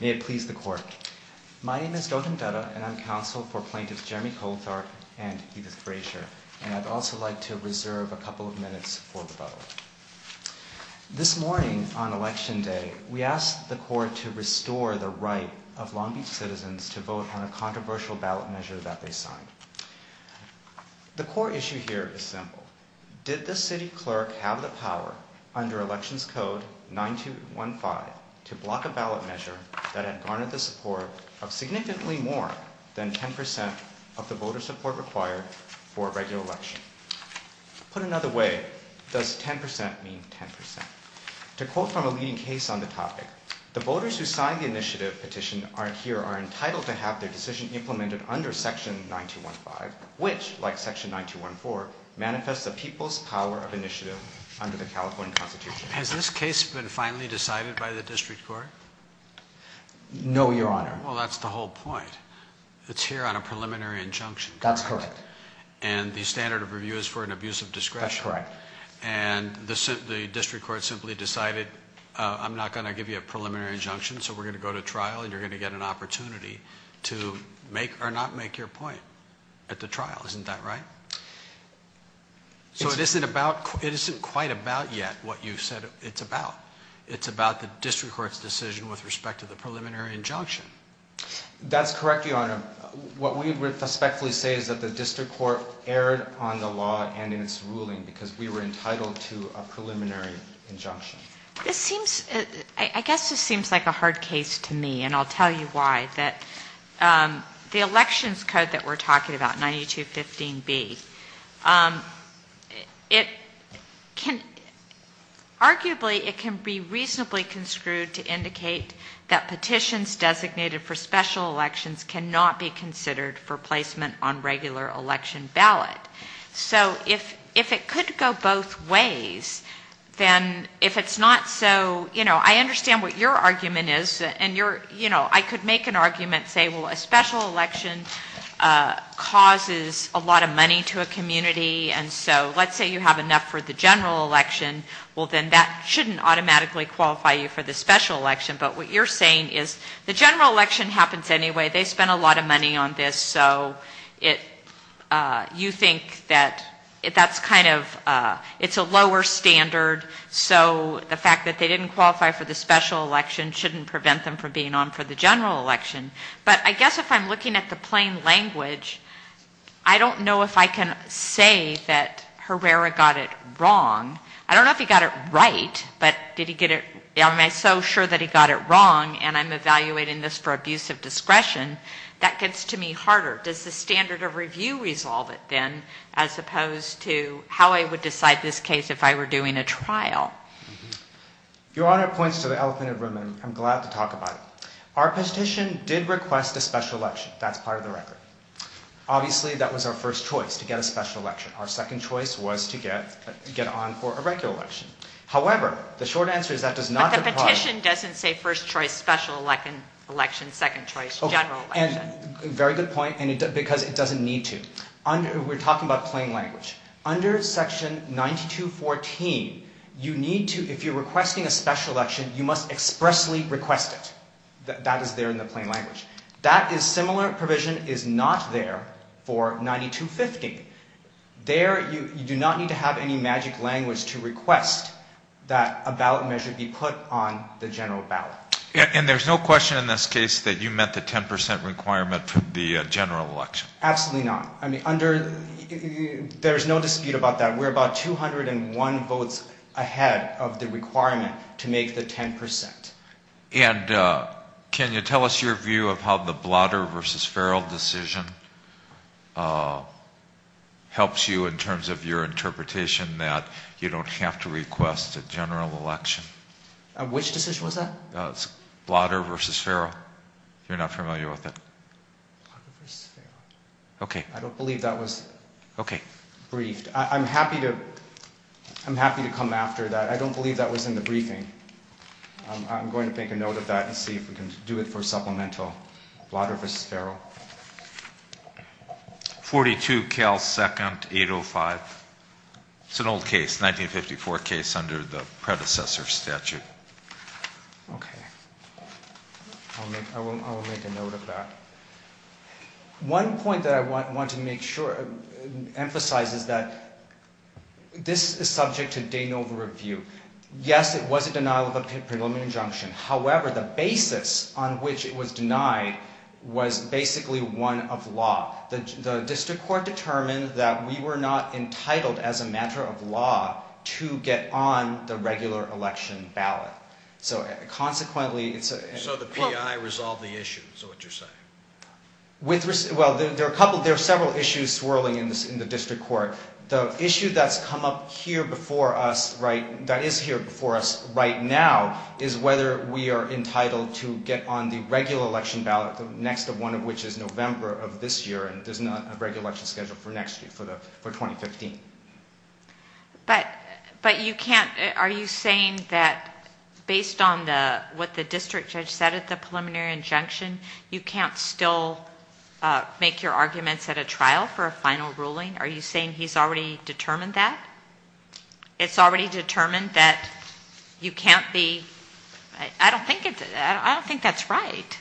May it please the court. My name is Gautam Dutta and I'm counsel for plaintiffs Jeremy Coltharp and Edith Frasier and I'd also like to reserve a couple of minutes for the vote. This morning on election day we asked the court to restore the right of Long Beach citizens to vote on a controversial ballot measure that they signed. The core issue here is simple. Did the city clerk have the power under elections code 9215 to block a ballot measure that had garnered the support of significantly more than 10 percent of the voter support required for a regular election? Put another way, does 10 percent mean 10 percent? To quote from a leading case on the topic, the voters who signed the initiative petition aren't here are entitled to have their decision implemented under section 9215 which, like section 9214, manifests the people's power of initiative under the California Constitution. Has this case been finally decided by the district court? No your honor. Well that's the whole point. It's here on a preliminary injunction. That's correct. And the standard of review is for an abusive discretion. That's correct. And the district court simply decided I'm not going to give you a preliminary injunction so we're going to go to trial and you're going to get an opportunity to make or not make your point at the trial. Isn't that right? So it isn't about, it isn't quite about yet what you said it's about. It's about the district court's decision with respect to the preliminary injunction. That's correct your honor. What we would respectfully say is that the district court erred on the law and in its ruling because we were entitled to a preliminary injunction. This seems, I guess this seems like a hard case to me and I'll tell you why. That the elections code that we're talking about, 9215B, it can arguably, it can be reasonably construed to indicate that petitions designated for special elections cannot be considered for placement on regular election ballot. So if it could go both ways then if it's not so, you know, I understand what your argument is and your, you know, I could make an argument say well a special election causes a lot of money to a community and so let's say you have enough for the general election, well then that shouldn't automatically qualify you for the special election. But what you're saying is the general election happens anyway. They spent a lot of money on this so it, you think that that's kind of, it's a lower standard so the fact that they didn't qualify for the special election shouldn't prevent them from being on for the general election. But I guess if I'm looking at the plain language, I don't know if I can say that Herrera got it wrong. I don't know if he got it right, but did he get it, am I so sure that he got it wrong and I'm evaluating this for abuse of discretion, that gets to me harder. Does the standard of review resolve it then as opposed to how I would decide this case if I were doing a trial? Your Honor, it points to the elephant in the room and I'm glad to talk about it. Our petition did request a special election, that's part of the record. Obviously that was our first choice, to get a special election. Our second choice was to get on for a regular election. However, the short answer is that does not... But the petition doesn't say first choice, special election, second choice, general election. Very good point and because it doesn't need to. We're talking about plain language. Under section 9214, you need to, if you're requesting a special election, you must expressly request it. That is there in the plain language. That is similar provision is not there for 9250. There, you do not need to have any magic language to request that a ballot measure be put on the general ballot. And there's no question in this case that you meant the 10% requirement for the general election? Absolutely not. I mean, under, there's no dispute about that. We're about 201 votes ahead of the requirement to make the 10%. And can you tell us your view of how the Blotter v. Farrell decision helps you in terms of your interpretation that you don't have to request a general election? Which decision was that? Blotter v. Farrell. You're not familiar with it? Okay. I don't believe that was briefed. I'm happy to, I'm happy to come after that. I don't believe that was in the briefing. I'm going to make a note of that and see if we can do it for supplemental. Blotter v. Farrell. 42 Cal 2nd 805. It's an old case, 1954 case under the predecessor statute. Okay. I will make a note of that. One point that I want to make sure, emphasize is that this is subject to de novo review. Yes, it was a denial of a preliminary injunction. However, the basis on which it was denied was basically one of law. The district court determined that we were not entitled as a election ballot. So consequently it's... So the PI resolved the issue is what you're saying? Well, there are a couple, there are several issues swirling in the district court. The issue that's come up here before us, right, that is here before us right now is whether we are entitled to get on the regular election ballot, the next of one of which is November of this year, and there's not a regular election schedule for next year, for 2015. But you can't, are you saying that based on what the district judge said at the preliminary injunction, you can't still make your arguments at a trial for a final ruling? Are you saying he's already determined that? It's already determined that you can't be, I don't think that's right.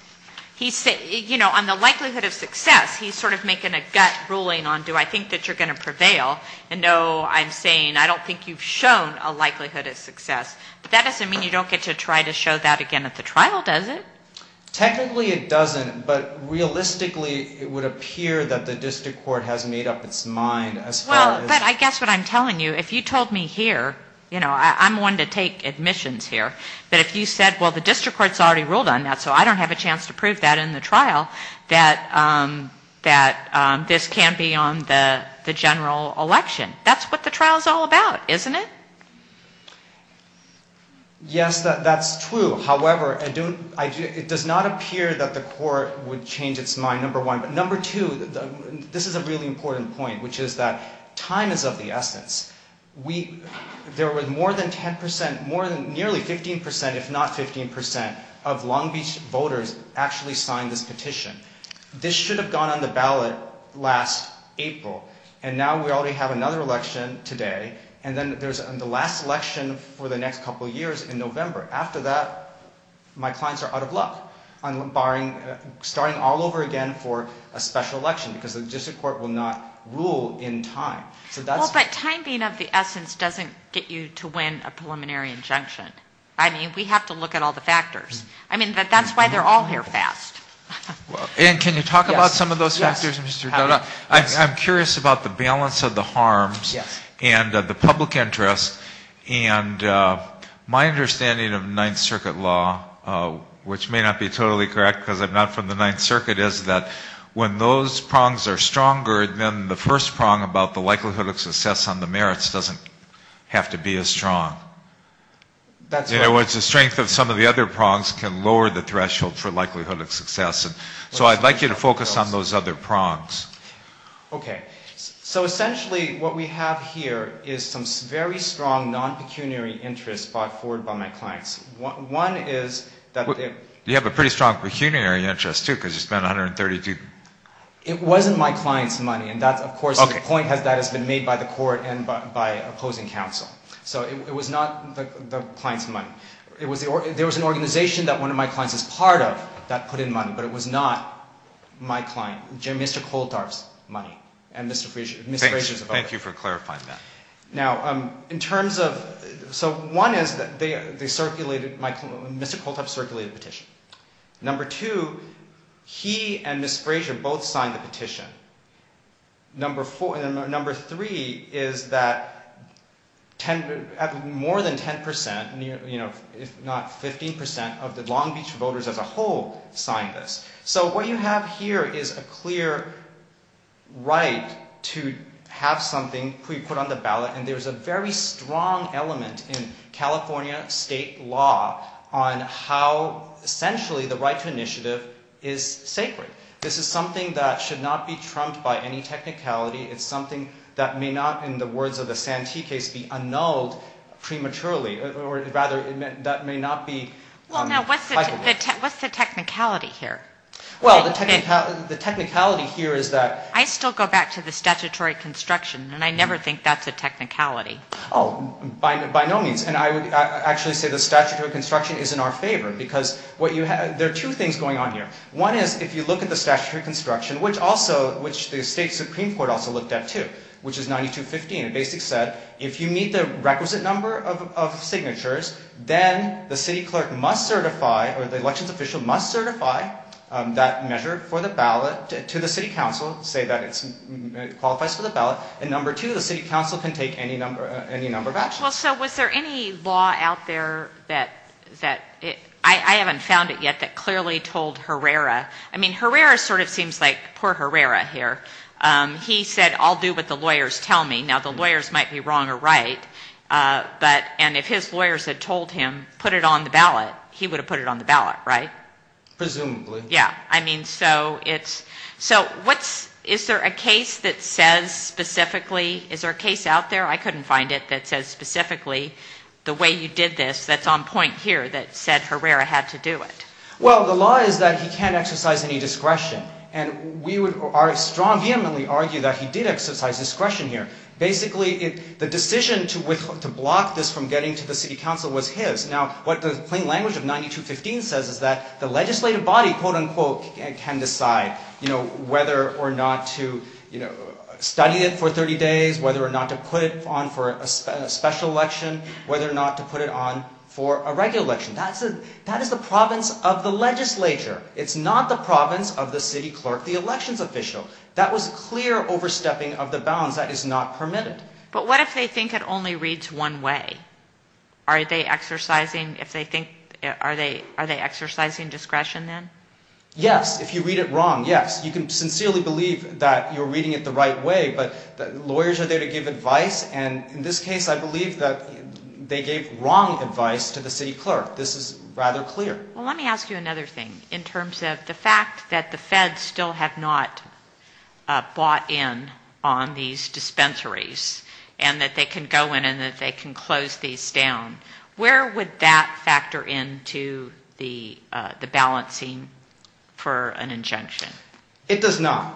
He said, you know, on the likelihood of success, he's sort of making a gut ruling on do I think that you're going to prevail, and no, I'm saying I don't think you've shown a likelihood of success. But that doesn't mean you don't get to try to show that again at the trial, does it? Technically it doesn't, but realistically it would appear that the district court has made up its mind as far as... Well, but I guess what I'm telling you, if you told me here, you know, I'm one to take admissions here, but if you said, well, the district court's already ruled on that, so I don't have a chance to prove that in the trial, that this can't be on the general election. That's what the trial's all about, isn't it? Yes, that's true. However, it does not appear that the court would change its mind, number one. But number two, this is a really important point, which is that time is of the essence. There were more than 10%, nearly 15%, if not 15% of Long Beach voters actually signed this petition. This should have gone on the ballot last April, and now we already have another election today, and then there's the last election for the next couple of years in November. After that, my clients are out of luck on starting all over again for a special election because the district court will not rule in time. Well, but time being of the essence doesn't get you to win a preliminary injunction. I mean, we have to look at all the factors. I mean, that's why they're all here fast. Anne, can you talk about some of those factors, Mr. Dodd? I'm curious about the balance of the harms and the public interest, and my understanding of Ninth Circuit law, which may not be totally correct because I'm not from the Ninth Circuit, is that when those prongs are stronger than the first prong about the likelihood of success on the merits doesn't have to be as strong. In other words, the strength of some of the other prongs can lower the threshold for likelihood of success, and so I'd like you to focus on those other prongs. Okay. So essentially what we have here is some very strong non-pecuniary interests brought forward by my clients. One is that... You have a pretty strong pecuniary interest, too, because you spent 132... It wasn't my client's money, and that's, of course, the point that has been made by the court and by opposing counsel. So it was not the client's money. There was an organization that one of my clients is part of that put in money, but it was not my client, Mr. Kolthoff's money and Ms. Frazier's money. Thank you for clarifying that. Now, in terms of... So one is that they circulated... Mr. Kolthoff circulated a petition. Number two, he and Ms. Frazier both signed the petition. Number three is that more than 10%, if not 15% of the Long Beach voters as a whole signed this. So what you have here is a clear right to have something put on the ballot, and there's a very clear right to have something put on the ballot, and essentially the right to initiative is sacred. This is something that should not be trumped by any technicality. It's something that may not, in the words of the Santee case, be annulled prematurely, or rather, that may not be... What's the technicality here? Well, the technicality here is that... I still go back to the statutory construction, and I never think that's a technicality. Oh, by no means. And I would actually say the statutory construction is in our favor, because there are two things going on here. One is, if you look at the statutory construction, which the state Supreme Court also looked at too, which is 9215, it basically said, if you meet the requisite number of signatures, then the city clerk must certify, or the elections official must certify that measure for the ballot to the city council, say that it qualifies for the ballot, and number two, the city council can take any number of actions. So was there any law out there that... I haven't found it yet that clearly told Herrera... I mean, Herrera sort of seems like poor Herrera here. He said, I'll do what the lawyers tell me. Now, the lawyers might be wrong or right, and if his lawyers had told him, put it on the ballot, he would have put it on the ballot, right? Presumably. Yeah. I mean, so it's... So what's... Is there a case that says specifically... Is there a case out there, I couldn't find it, that says specifically, the way you did this, that's on point here, that said Herrera had to do it? Well, the law is that he can't exercise any discretion, and we would strong vehemently argue that he did exercise discretion here. Basically, the decision to block this from getting to the city council was his. Now, what the plain language of 9215 says is that the legislative body, quote-unquote, can decide whether or not to study it for 30 days, whether or not to put it on for a special election, whether or not to put it on for a regular election. That is the province of the legislature. It's not the province of the city clerk, the elections official. That was clear overstepping of the bounds. That is not permitted. But what if they think it only reads one way? Are they exercising... If they think... Are they exercising discretion then? Yes, if you read it wrong, yes. You can sincerely believe that you're reading it the right way, but lawyers are there to give advice, and in this case, I believe that they gave wrong advice to the city clerk. This is rather clear. Well, let me ask you another thing, in terms of the fact that the feds still have not bought in on these dispensaries, and that they can go in and that they can close these down. Where would that factor into the balancing for an injunction? It does not.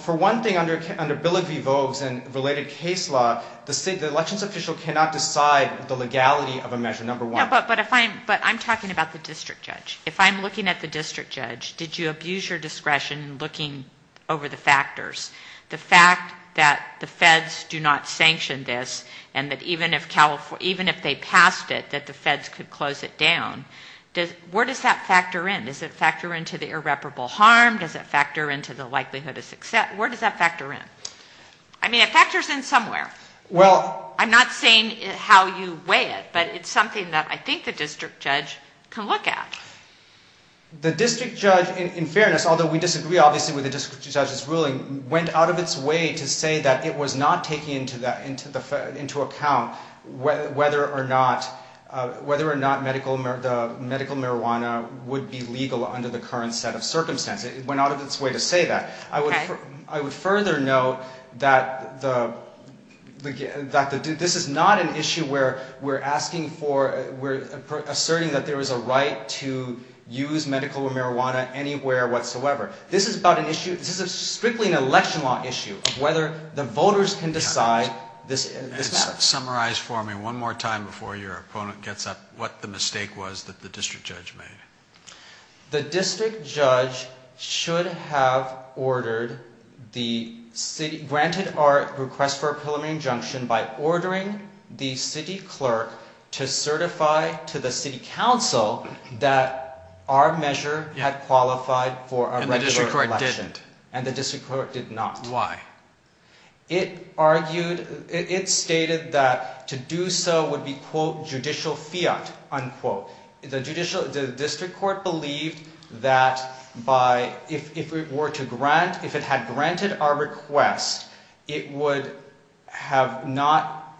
For one thing, under Bill of Vivos and related case law, the elections official cannot decide the legality of a measure, number one. No, but I'm talking about the district judge. If I'm looking at the district judge, did you abuse your discretion in looking over the factors? The fact that the feds do not sanction this, and that even if they passed it, that the feds could close it down, where does that factor in? Does it factor into the irreparable harm? Does it factor into the likelihood of success? Where does that factor in? I mean, it factors in somewhere. I'm not saying how you weigh it, but it's something that I think the district judge can look at. although we disagree obviously with the district judge's ruling, went out of its way to say that it was not taking into account whether or not medical marijuana would be legal under the current set of circumstances. It went out of its way to say that. I would further note that this is not an issue where we're asking for, we're asserting that there is a right to use medical marijuana anywhere whatsoever. This is strictly an election law issue, whether the voters can decide this matters. Summarize for me one more time before your opponent gets up, what the mistake was that the district judge made. The district judge should have granted our request for a preliminary injunction by ordering the city clerk to certify to the city council that our measure had qualified for a regular election. And the district court didn't. And the district court did not. Why? It argued, it stated that to do so would be, quote, judicial fiat, unquote. The judicial, the district court believed that by, if it were to grant, if it had granted our request, it would have not,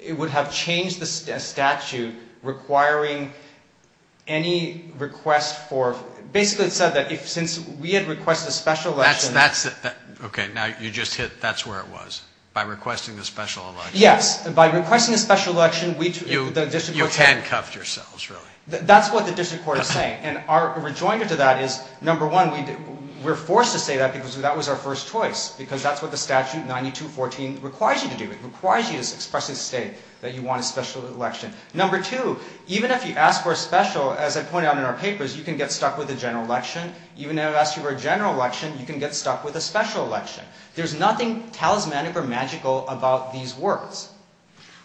it would have changed the statute requiring any request for, basically it said that if, since we had requested a special election. That's it. Okay. Now you just hit, that's where it was, by requesting the special election. Yes. By requesting a special election, the district court said. You handcuffed yourselves, really. That's what the district court is saying. And our rejoinder to that is, number one, we're forced to say that because that was our first choice, because that's what the statute 92-14 requires you to do. It requires you to expressly state that you want a special election. Number two, even if you ask for a special, as I pointed out in our papers, you can get stuck with a general election. Even if I ask you for a general election, you can get stuck with a special election. There's nothing talismanic or magical about these words.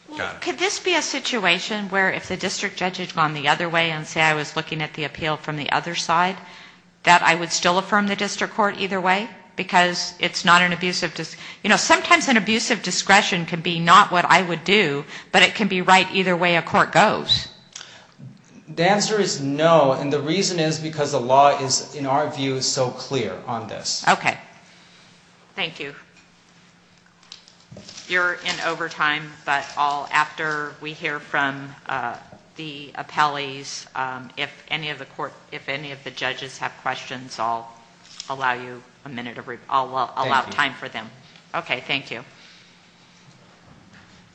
Well, could this be a situation where if the district judge had gone the other way and say I was looking at the appeal from the other side, that I would still affirm the district court either way? Because it's not an abusive, you know, sometimes an abusive discretion can be not what I would do, but it can be right either way a court goes. The answer is no. And the reason is because the law is, in our view, so clear on this. Okay. Thank you. You're in overtime, but I'll, after we hear from the appellees, if any of the court, if any of the judges have questions, I'll allow you a minute, I'll allow time for them. Okay. Thank you.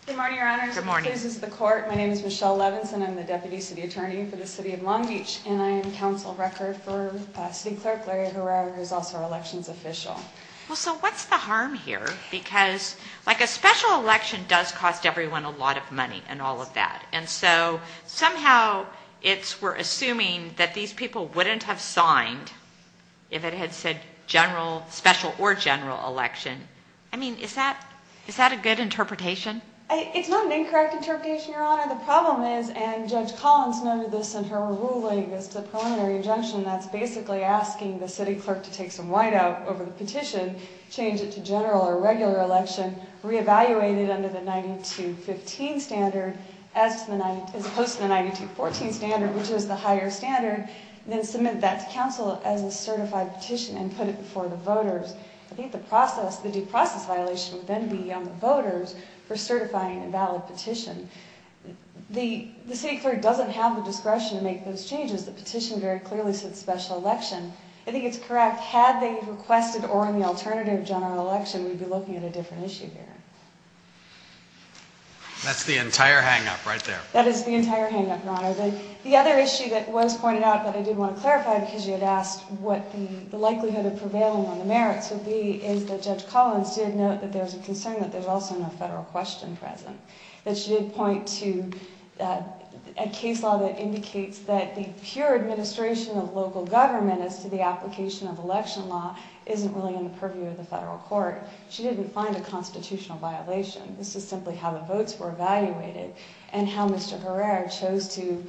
Good morning, your honors. Good morning. This is the court. My name is Michelle Levinson. I'm the deputy city attorney for the city of Long Beach, and I am council record for city clerk, Larry Herrera, who's also our elections official. Well, so what's the harm here? Because like a special election does cost everyone a lot of money and all of that. And so somehow it's, we're assuming that these people wouldn't have signed if it had said general special or general election. I mean, is that, is that a good interpretation? It's not an incorrect interpretation, your honor. The problem is, and judge Collins noted this in her ruling, is the preliminary injunction. That's basically asking the city clerk to take some white out over the petition, change it to general or regular election, reevaluate it under the 92-15 standard as opposed to the 92-14 standard, which was the higher standard, then submit that to council as a certified petition and put it before the voters. I think the process, the due process violation would then be on the voters for certifying a valid petition. The city clerk doesn't have the discretion to make those changes. The petition very clearly said special election. I think it's correct. Had they requested or in the alternative general election, we'd be looking at a different issue here. That's the entire hang-up right there. That is the entire hang-up, your honor. The other issue that was pointed out, but I did want to clarify because you had asked what the likelihood of prevailing on the merits would be, is that judge Collins did note that there's a concern that there's also no federal question present. That she did point to a case law that indicates that the pure administration of local government as to the application of election law isn't really in the purview of the federal court. She didn't find a constitutional violation. This is simply how the votes were evaluated and how Mr. Herrera chose to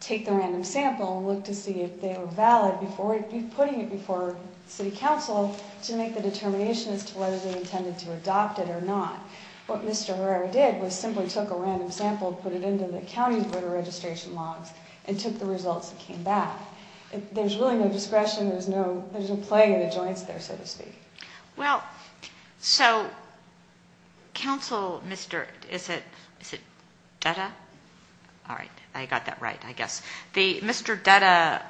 take the random sample and look to see if they were valid before putting it before city council to make the determination as to whether they intended to adopt it or not. What Mr. Herrera did was simply took a random sample, put it into the county voter registration logs and took the results that came back. There's really no discretion. There's no playing in the joints there, so to speak. Well, so counsel, is it Dutta? All right, I got that right, I guess. Mr. Dutta,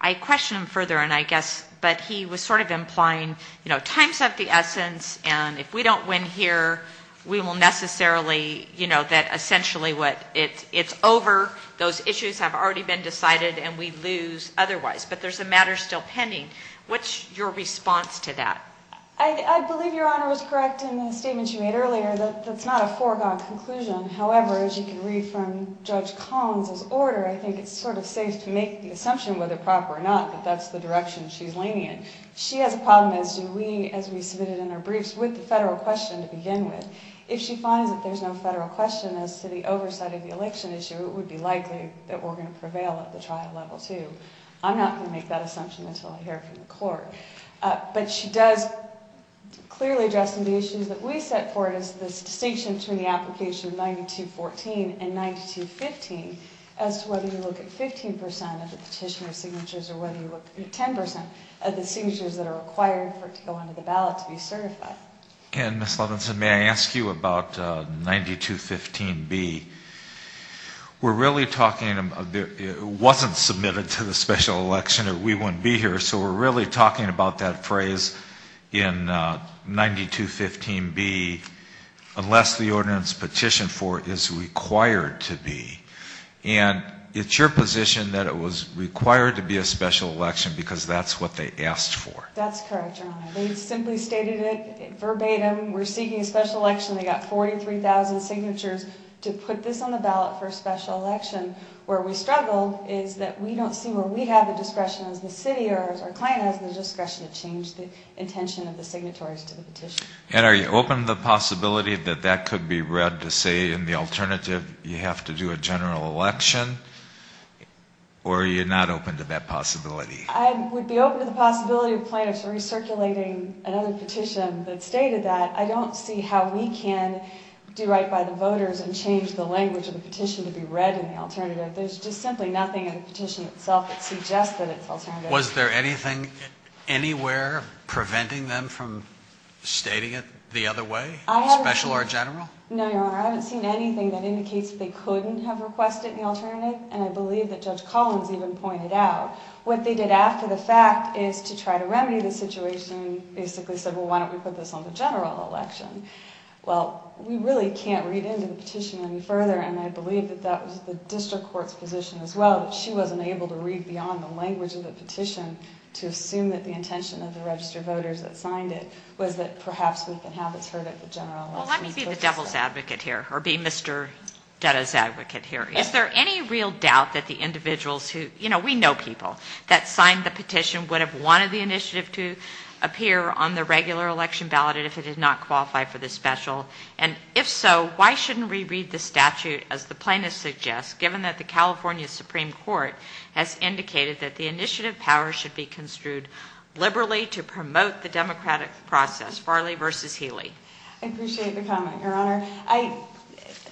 I questioned him further and I guess, but he was sort of implying, you know, time's of the essence and if we don't win here, we will necessarily, you know, that essentially it's over. Those issues have already been decided and we lose otherwise. But there's a matter still pending. What's your response to that? I believe Your Honor was correct in the statement you made earlier that that's not a foregone conclusion. However, as you can read from Judge Collins' order, I think it's sort of safe to make the assumption whether proper or not that that's the direction she's leaning in. She has a problem, as we submitted in our briefs, with the federal question to begin with. If she finds that there's no federal question as to the oversight of the election issue, it would be likely that we're going to prevail at the trial level too. I'm not going to make that assumption until I hear from the court. But she does clearly address some of the issues that we set forward as this distinction between the application of 9214 and 9215 as to whether you look at 15% of the petitioner's signatures or whether you look at 10% of the signatures that are required for it to go into the ballot to be certified. And Ms. Levinson, may I ask you about 9215B? We're really talking, it wasn't submitted to the special election, or we wouldn't be here, so we're really talking about that phrase in 9215B, unless the ordinance petitioned for it is required to be. And it's your position that it was required to be a special election because that's what they asked for. That's correct, Your Honor. They simply stated it verbatim. We're seeking a special election. They got 43,000 signatures to put this on the ballot for a special election. Where we struggle is that we don't see where we have the discretion as the city or as our client has the discretion to change the intention of the signatories to the petition. And are you open to the possibility that that could be read to say in the alternative you have to do a general election? Or are you not open to that possibility? I would be open to the possibility of plaintiffs recirculating another petition that stated that. I don't see how we can do right by the voters and change the language of the petition to be read in the alternative. There's just simply nothing in the petition itself that suggests that it's alternative. Was there anything anywhere preventing them from stating it the other way, special or general? No, Your Honor. I haven't seen anything that indicates that they couldn't have requested in the alternative, and I believe that Judge Collins even pointed out. What they did after the fact is to try to remedy the situation, basically said, well, why don't we put this on the general election? Well, we really can't read into the petition any further, and I believe that that was the district court's position as well, that she wasn't able to read beyond the language of the petition to assume that the intention of the registered voters that signed it was that perhaps we can have it heard at the general election. Let me be the devil's advocate here or be Mr. Dutta's advocate here. Is there any real doubt that the individuals who, you know, we know people that signed the petition would have wanted the initiative to appear on the regular election ballot and if it did not qualify for the special? And if so, why shouldn't we read the statute as the plaintiff suggests, given that the California Supreme Court has indicated that the initiative power should be construed liberally to promote the democratic process, Farley versus Healy? I appreciate the comment, Your Honor.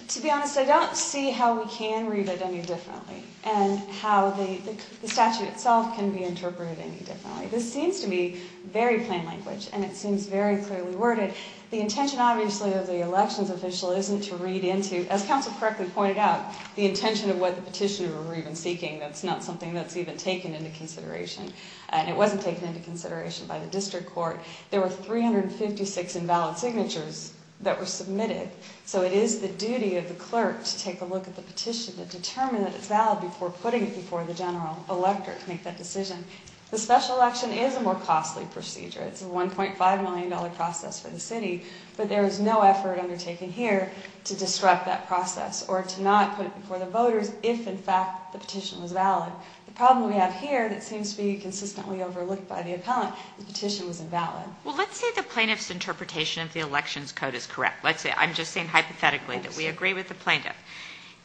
To be honest, I don't see how we can read it any differently and how the statute itself can be interpreted any differently. This seems to be very plain language and it seems very clearly worded. The intention, obviously, of the elections official isn't to read into, as counsel correctly pointed out, the intention of what the petitioner were even seeking. That's not something that's even taken into consideration and it wasn't taken into consideration by the district court. There were 356 invalid signatures that were submitted, so it is the duty of the clerk to take a look at the petition and determine that it's valid before putting it before the general elector to make that decision. The special election is a more costly procedure. It's a $1.5 million process for the city, but there is no effort undertaken here to disrupt that process or to not put it before the voters if, in fact, the petition was valid. The problem we have here that seems to be consistently overlooked by the appellant, the petition was invalid. Well, let's say the plaintiff's interpretation of the elections code is correct. Let's say, I'm just saying hypothetically, that we agree with the plaintiff.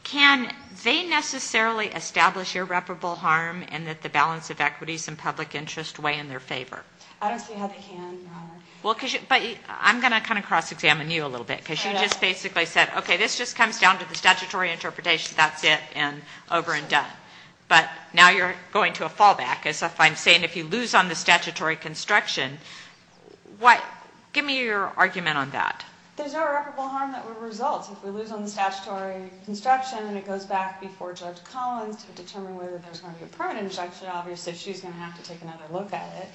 Can they necessarily establish irreparable harm and that the balance of equities and public interest weigh in their favor? I don't see how they can, Your Honor. Well, but I'm going to kind of cross-examine you a little bit because you just basically said, okay, this just comes down to the statutory interpretation, that's it, and over and done. But now you're going to a fallback as if I'm saying if you lose on the statutory construction, give me your argument on that. There's no irreparable harm that would result if we lose on the statutory construction and it goes back before Judge Collins to determine whether there's going to be a permanent injunction. Obviously, she's going to have to take another look at it.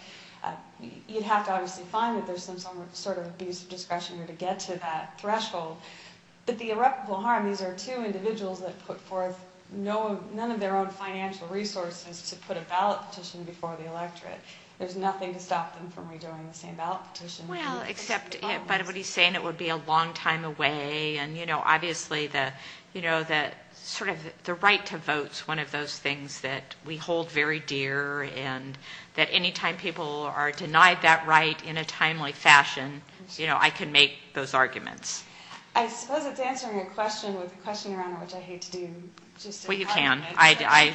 You'd have to obviously find that there's some sort of abuse of discretion here to get to that threshold. But the irreparable harm, these are two individuals that put forth none of their own financial resources to put a ballot petition before the electorate. There's nothing to stop them from redoing the same ballot petition. Well, except if, by the way, he's saying it would be a long time away and, you know, obviously the, you know, sort of the right to vote is one of those things that we hold very dear and that any time people are denied that right in a timely fashion, you know, I can make those arguments. I suppose it's answering a question with a question around it which I hate to do. Well, you can. I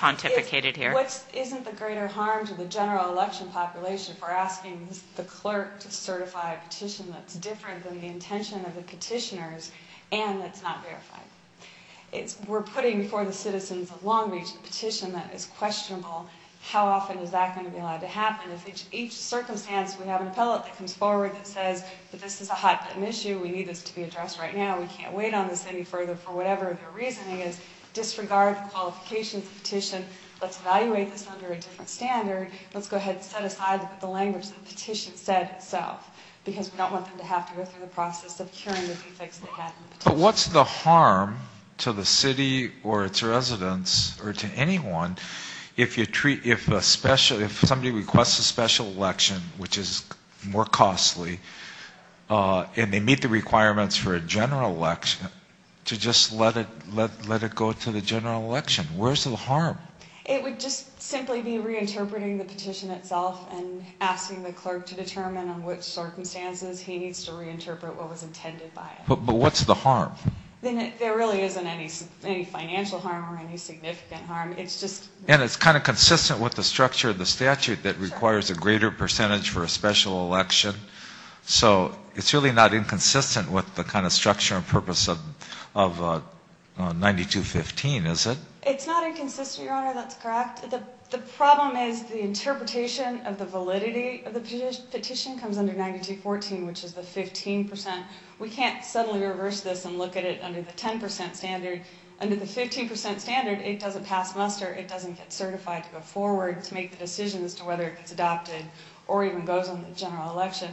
pontificated here. What isn't the greater harm to the general election population for asking the clerk to certify a petition that's different than the intention of the petitioners and that's not verified? We're putting before the citizens of Long Beach a petition that is questionable. How often is that going to be allowed to happen? If each circumstance, we have an appellate that comes forward that says, but this is a hot button issue. We need this to be addressed right now. We can't wait on this any further for whatever their reasoning is. Disregard the qualifications of the petition. Let's evaluate this under a different standard. Let's go ahead and set aside the language that the petition said itself because we don't want them to have to go through the process of curing the defects they had in the petition. What's the harm to the city or its residents or to anyone if somebody requests a special election, which is more costly and they meet the requirements for a general election to just let it go to the general election? Where's the harm? It would just simply be reinterpreting the petition itself and asking the clerk to determine on which circumstances he needs to reinterpret what was intended by it. But what's the harm? There really isn't any financial harm or any significant harm. And it's kind of consistent with the structure of the statute that requires a greater percentage for a special election. So it's really not inconsistent with the kind of structure and purpose of 9215, is it? It's not inconsistent, Your Honor. That's correct. The problem is the interpretation of the validity of the petition comes under 9214, which is the 15%. We can't suddenly reverse this and look at it under the 10% standard. Under the 15% standard, it doesn't pass muster. It doesn't get certified to go forward to make the decision as to whether it gets adopted or even goes on the general election.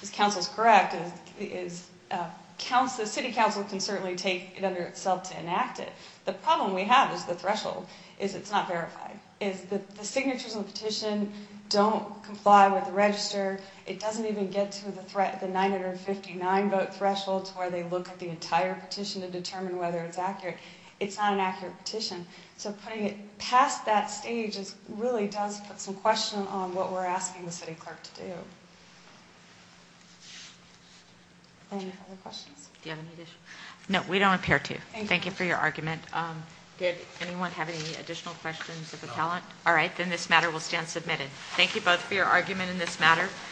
This counsel's correct. The city council can certainly take it under itself to enact it. The problem we have is the threshold, is it's not verified, is that the signatures of the petition don't comply with the register. It doesn't even get to the 959 vote threshold to where they look at the entire petition to determine whether it's accurate. It's not an accurate petition. So putting it past that stage really does put some question on what we're asking the city clerk to do. Any other questions? Do you have any additional? No, we don't appear to. Thank you for your argument. Did anyone have any additional questions of the talent? All right, then this matter will stand submitted. Thank you both for your argument in this matter. Thank you.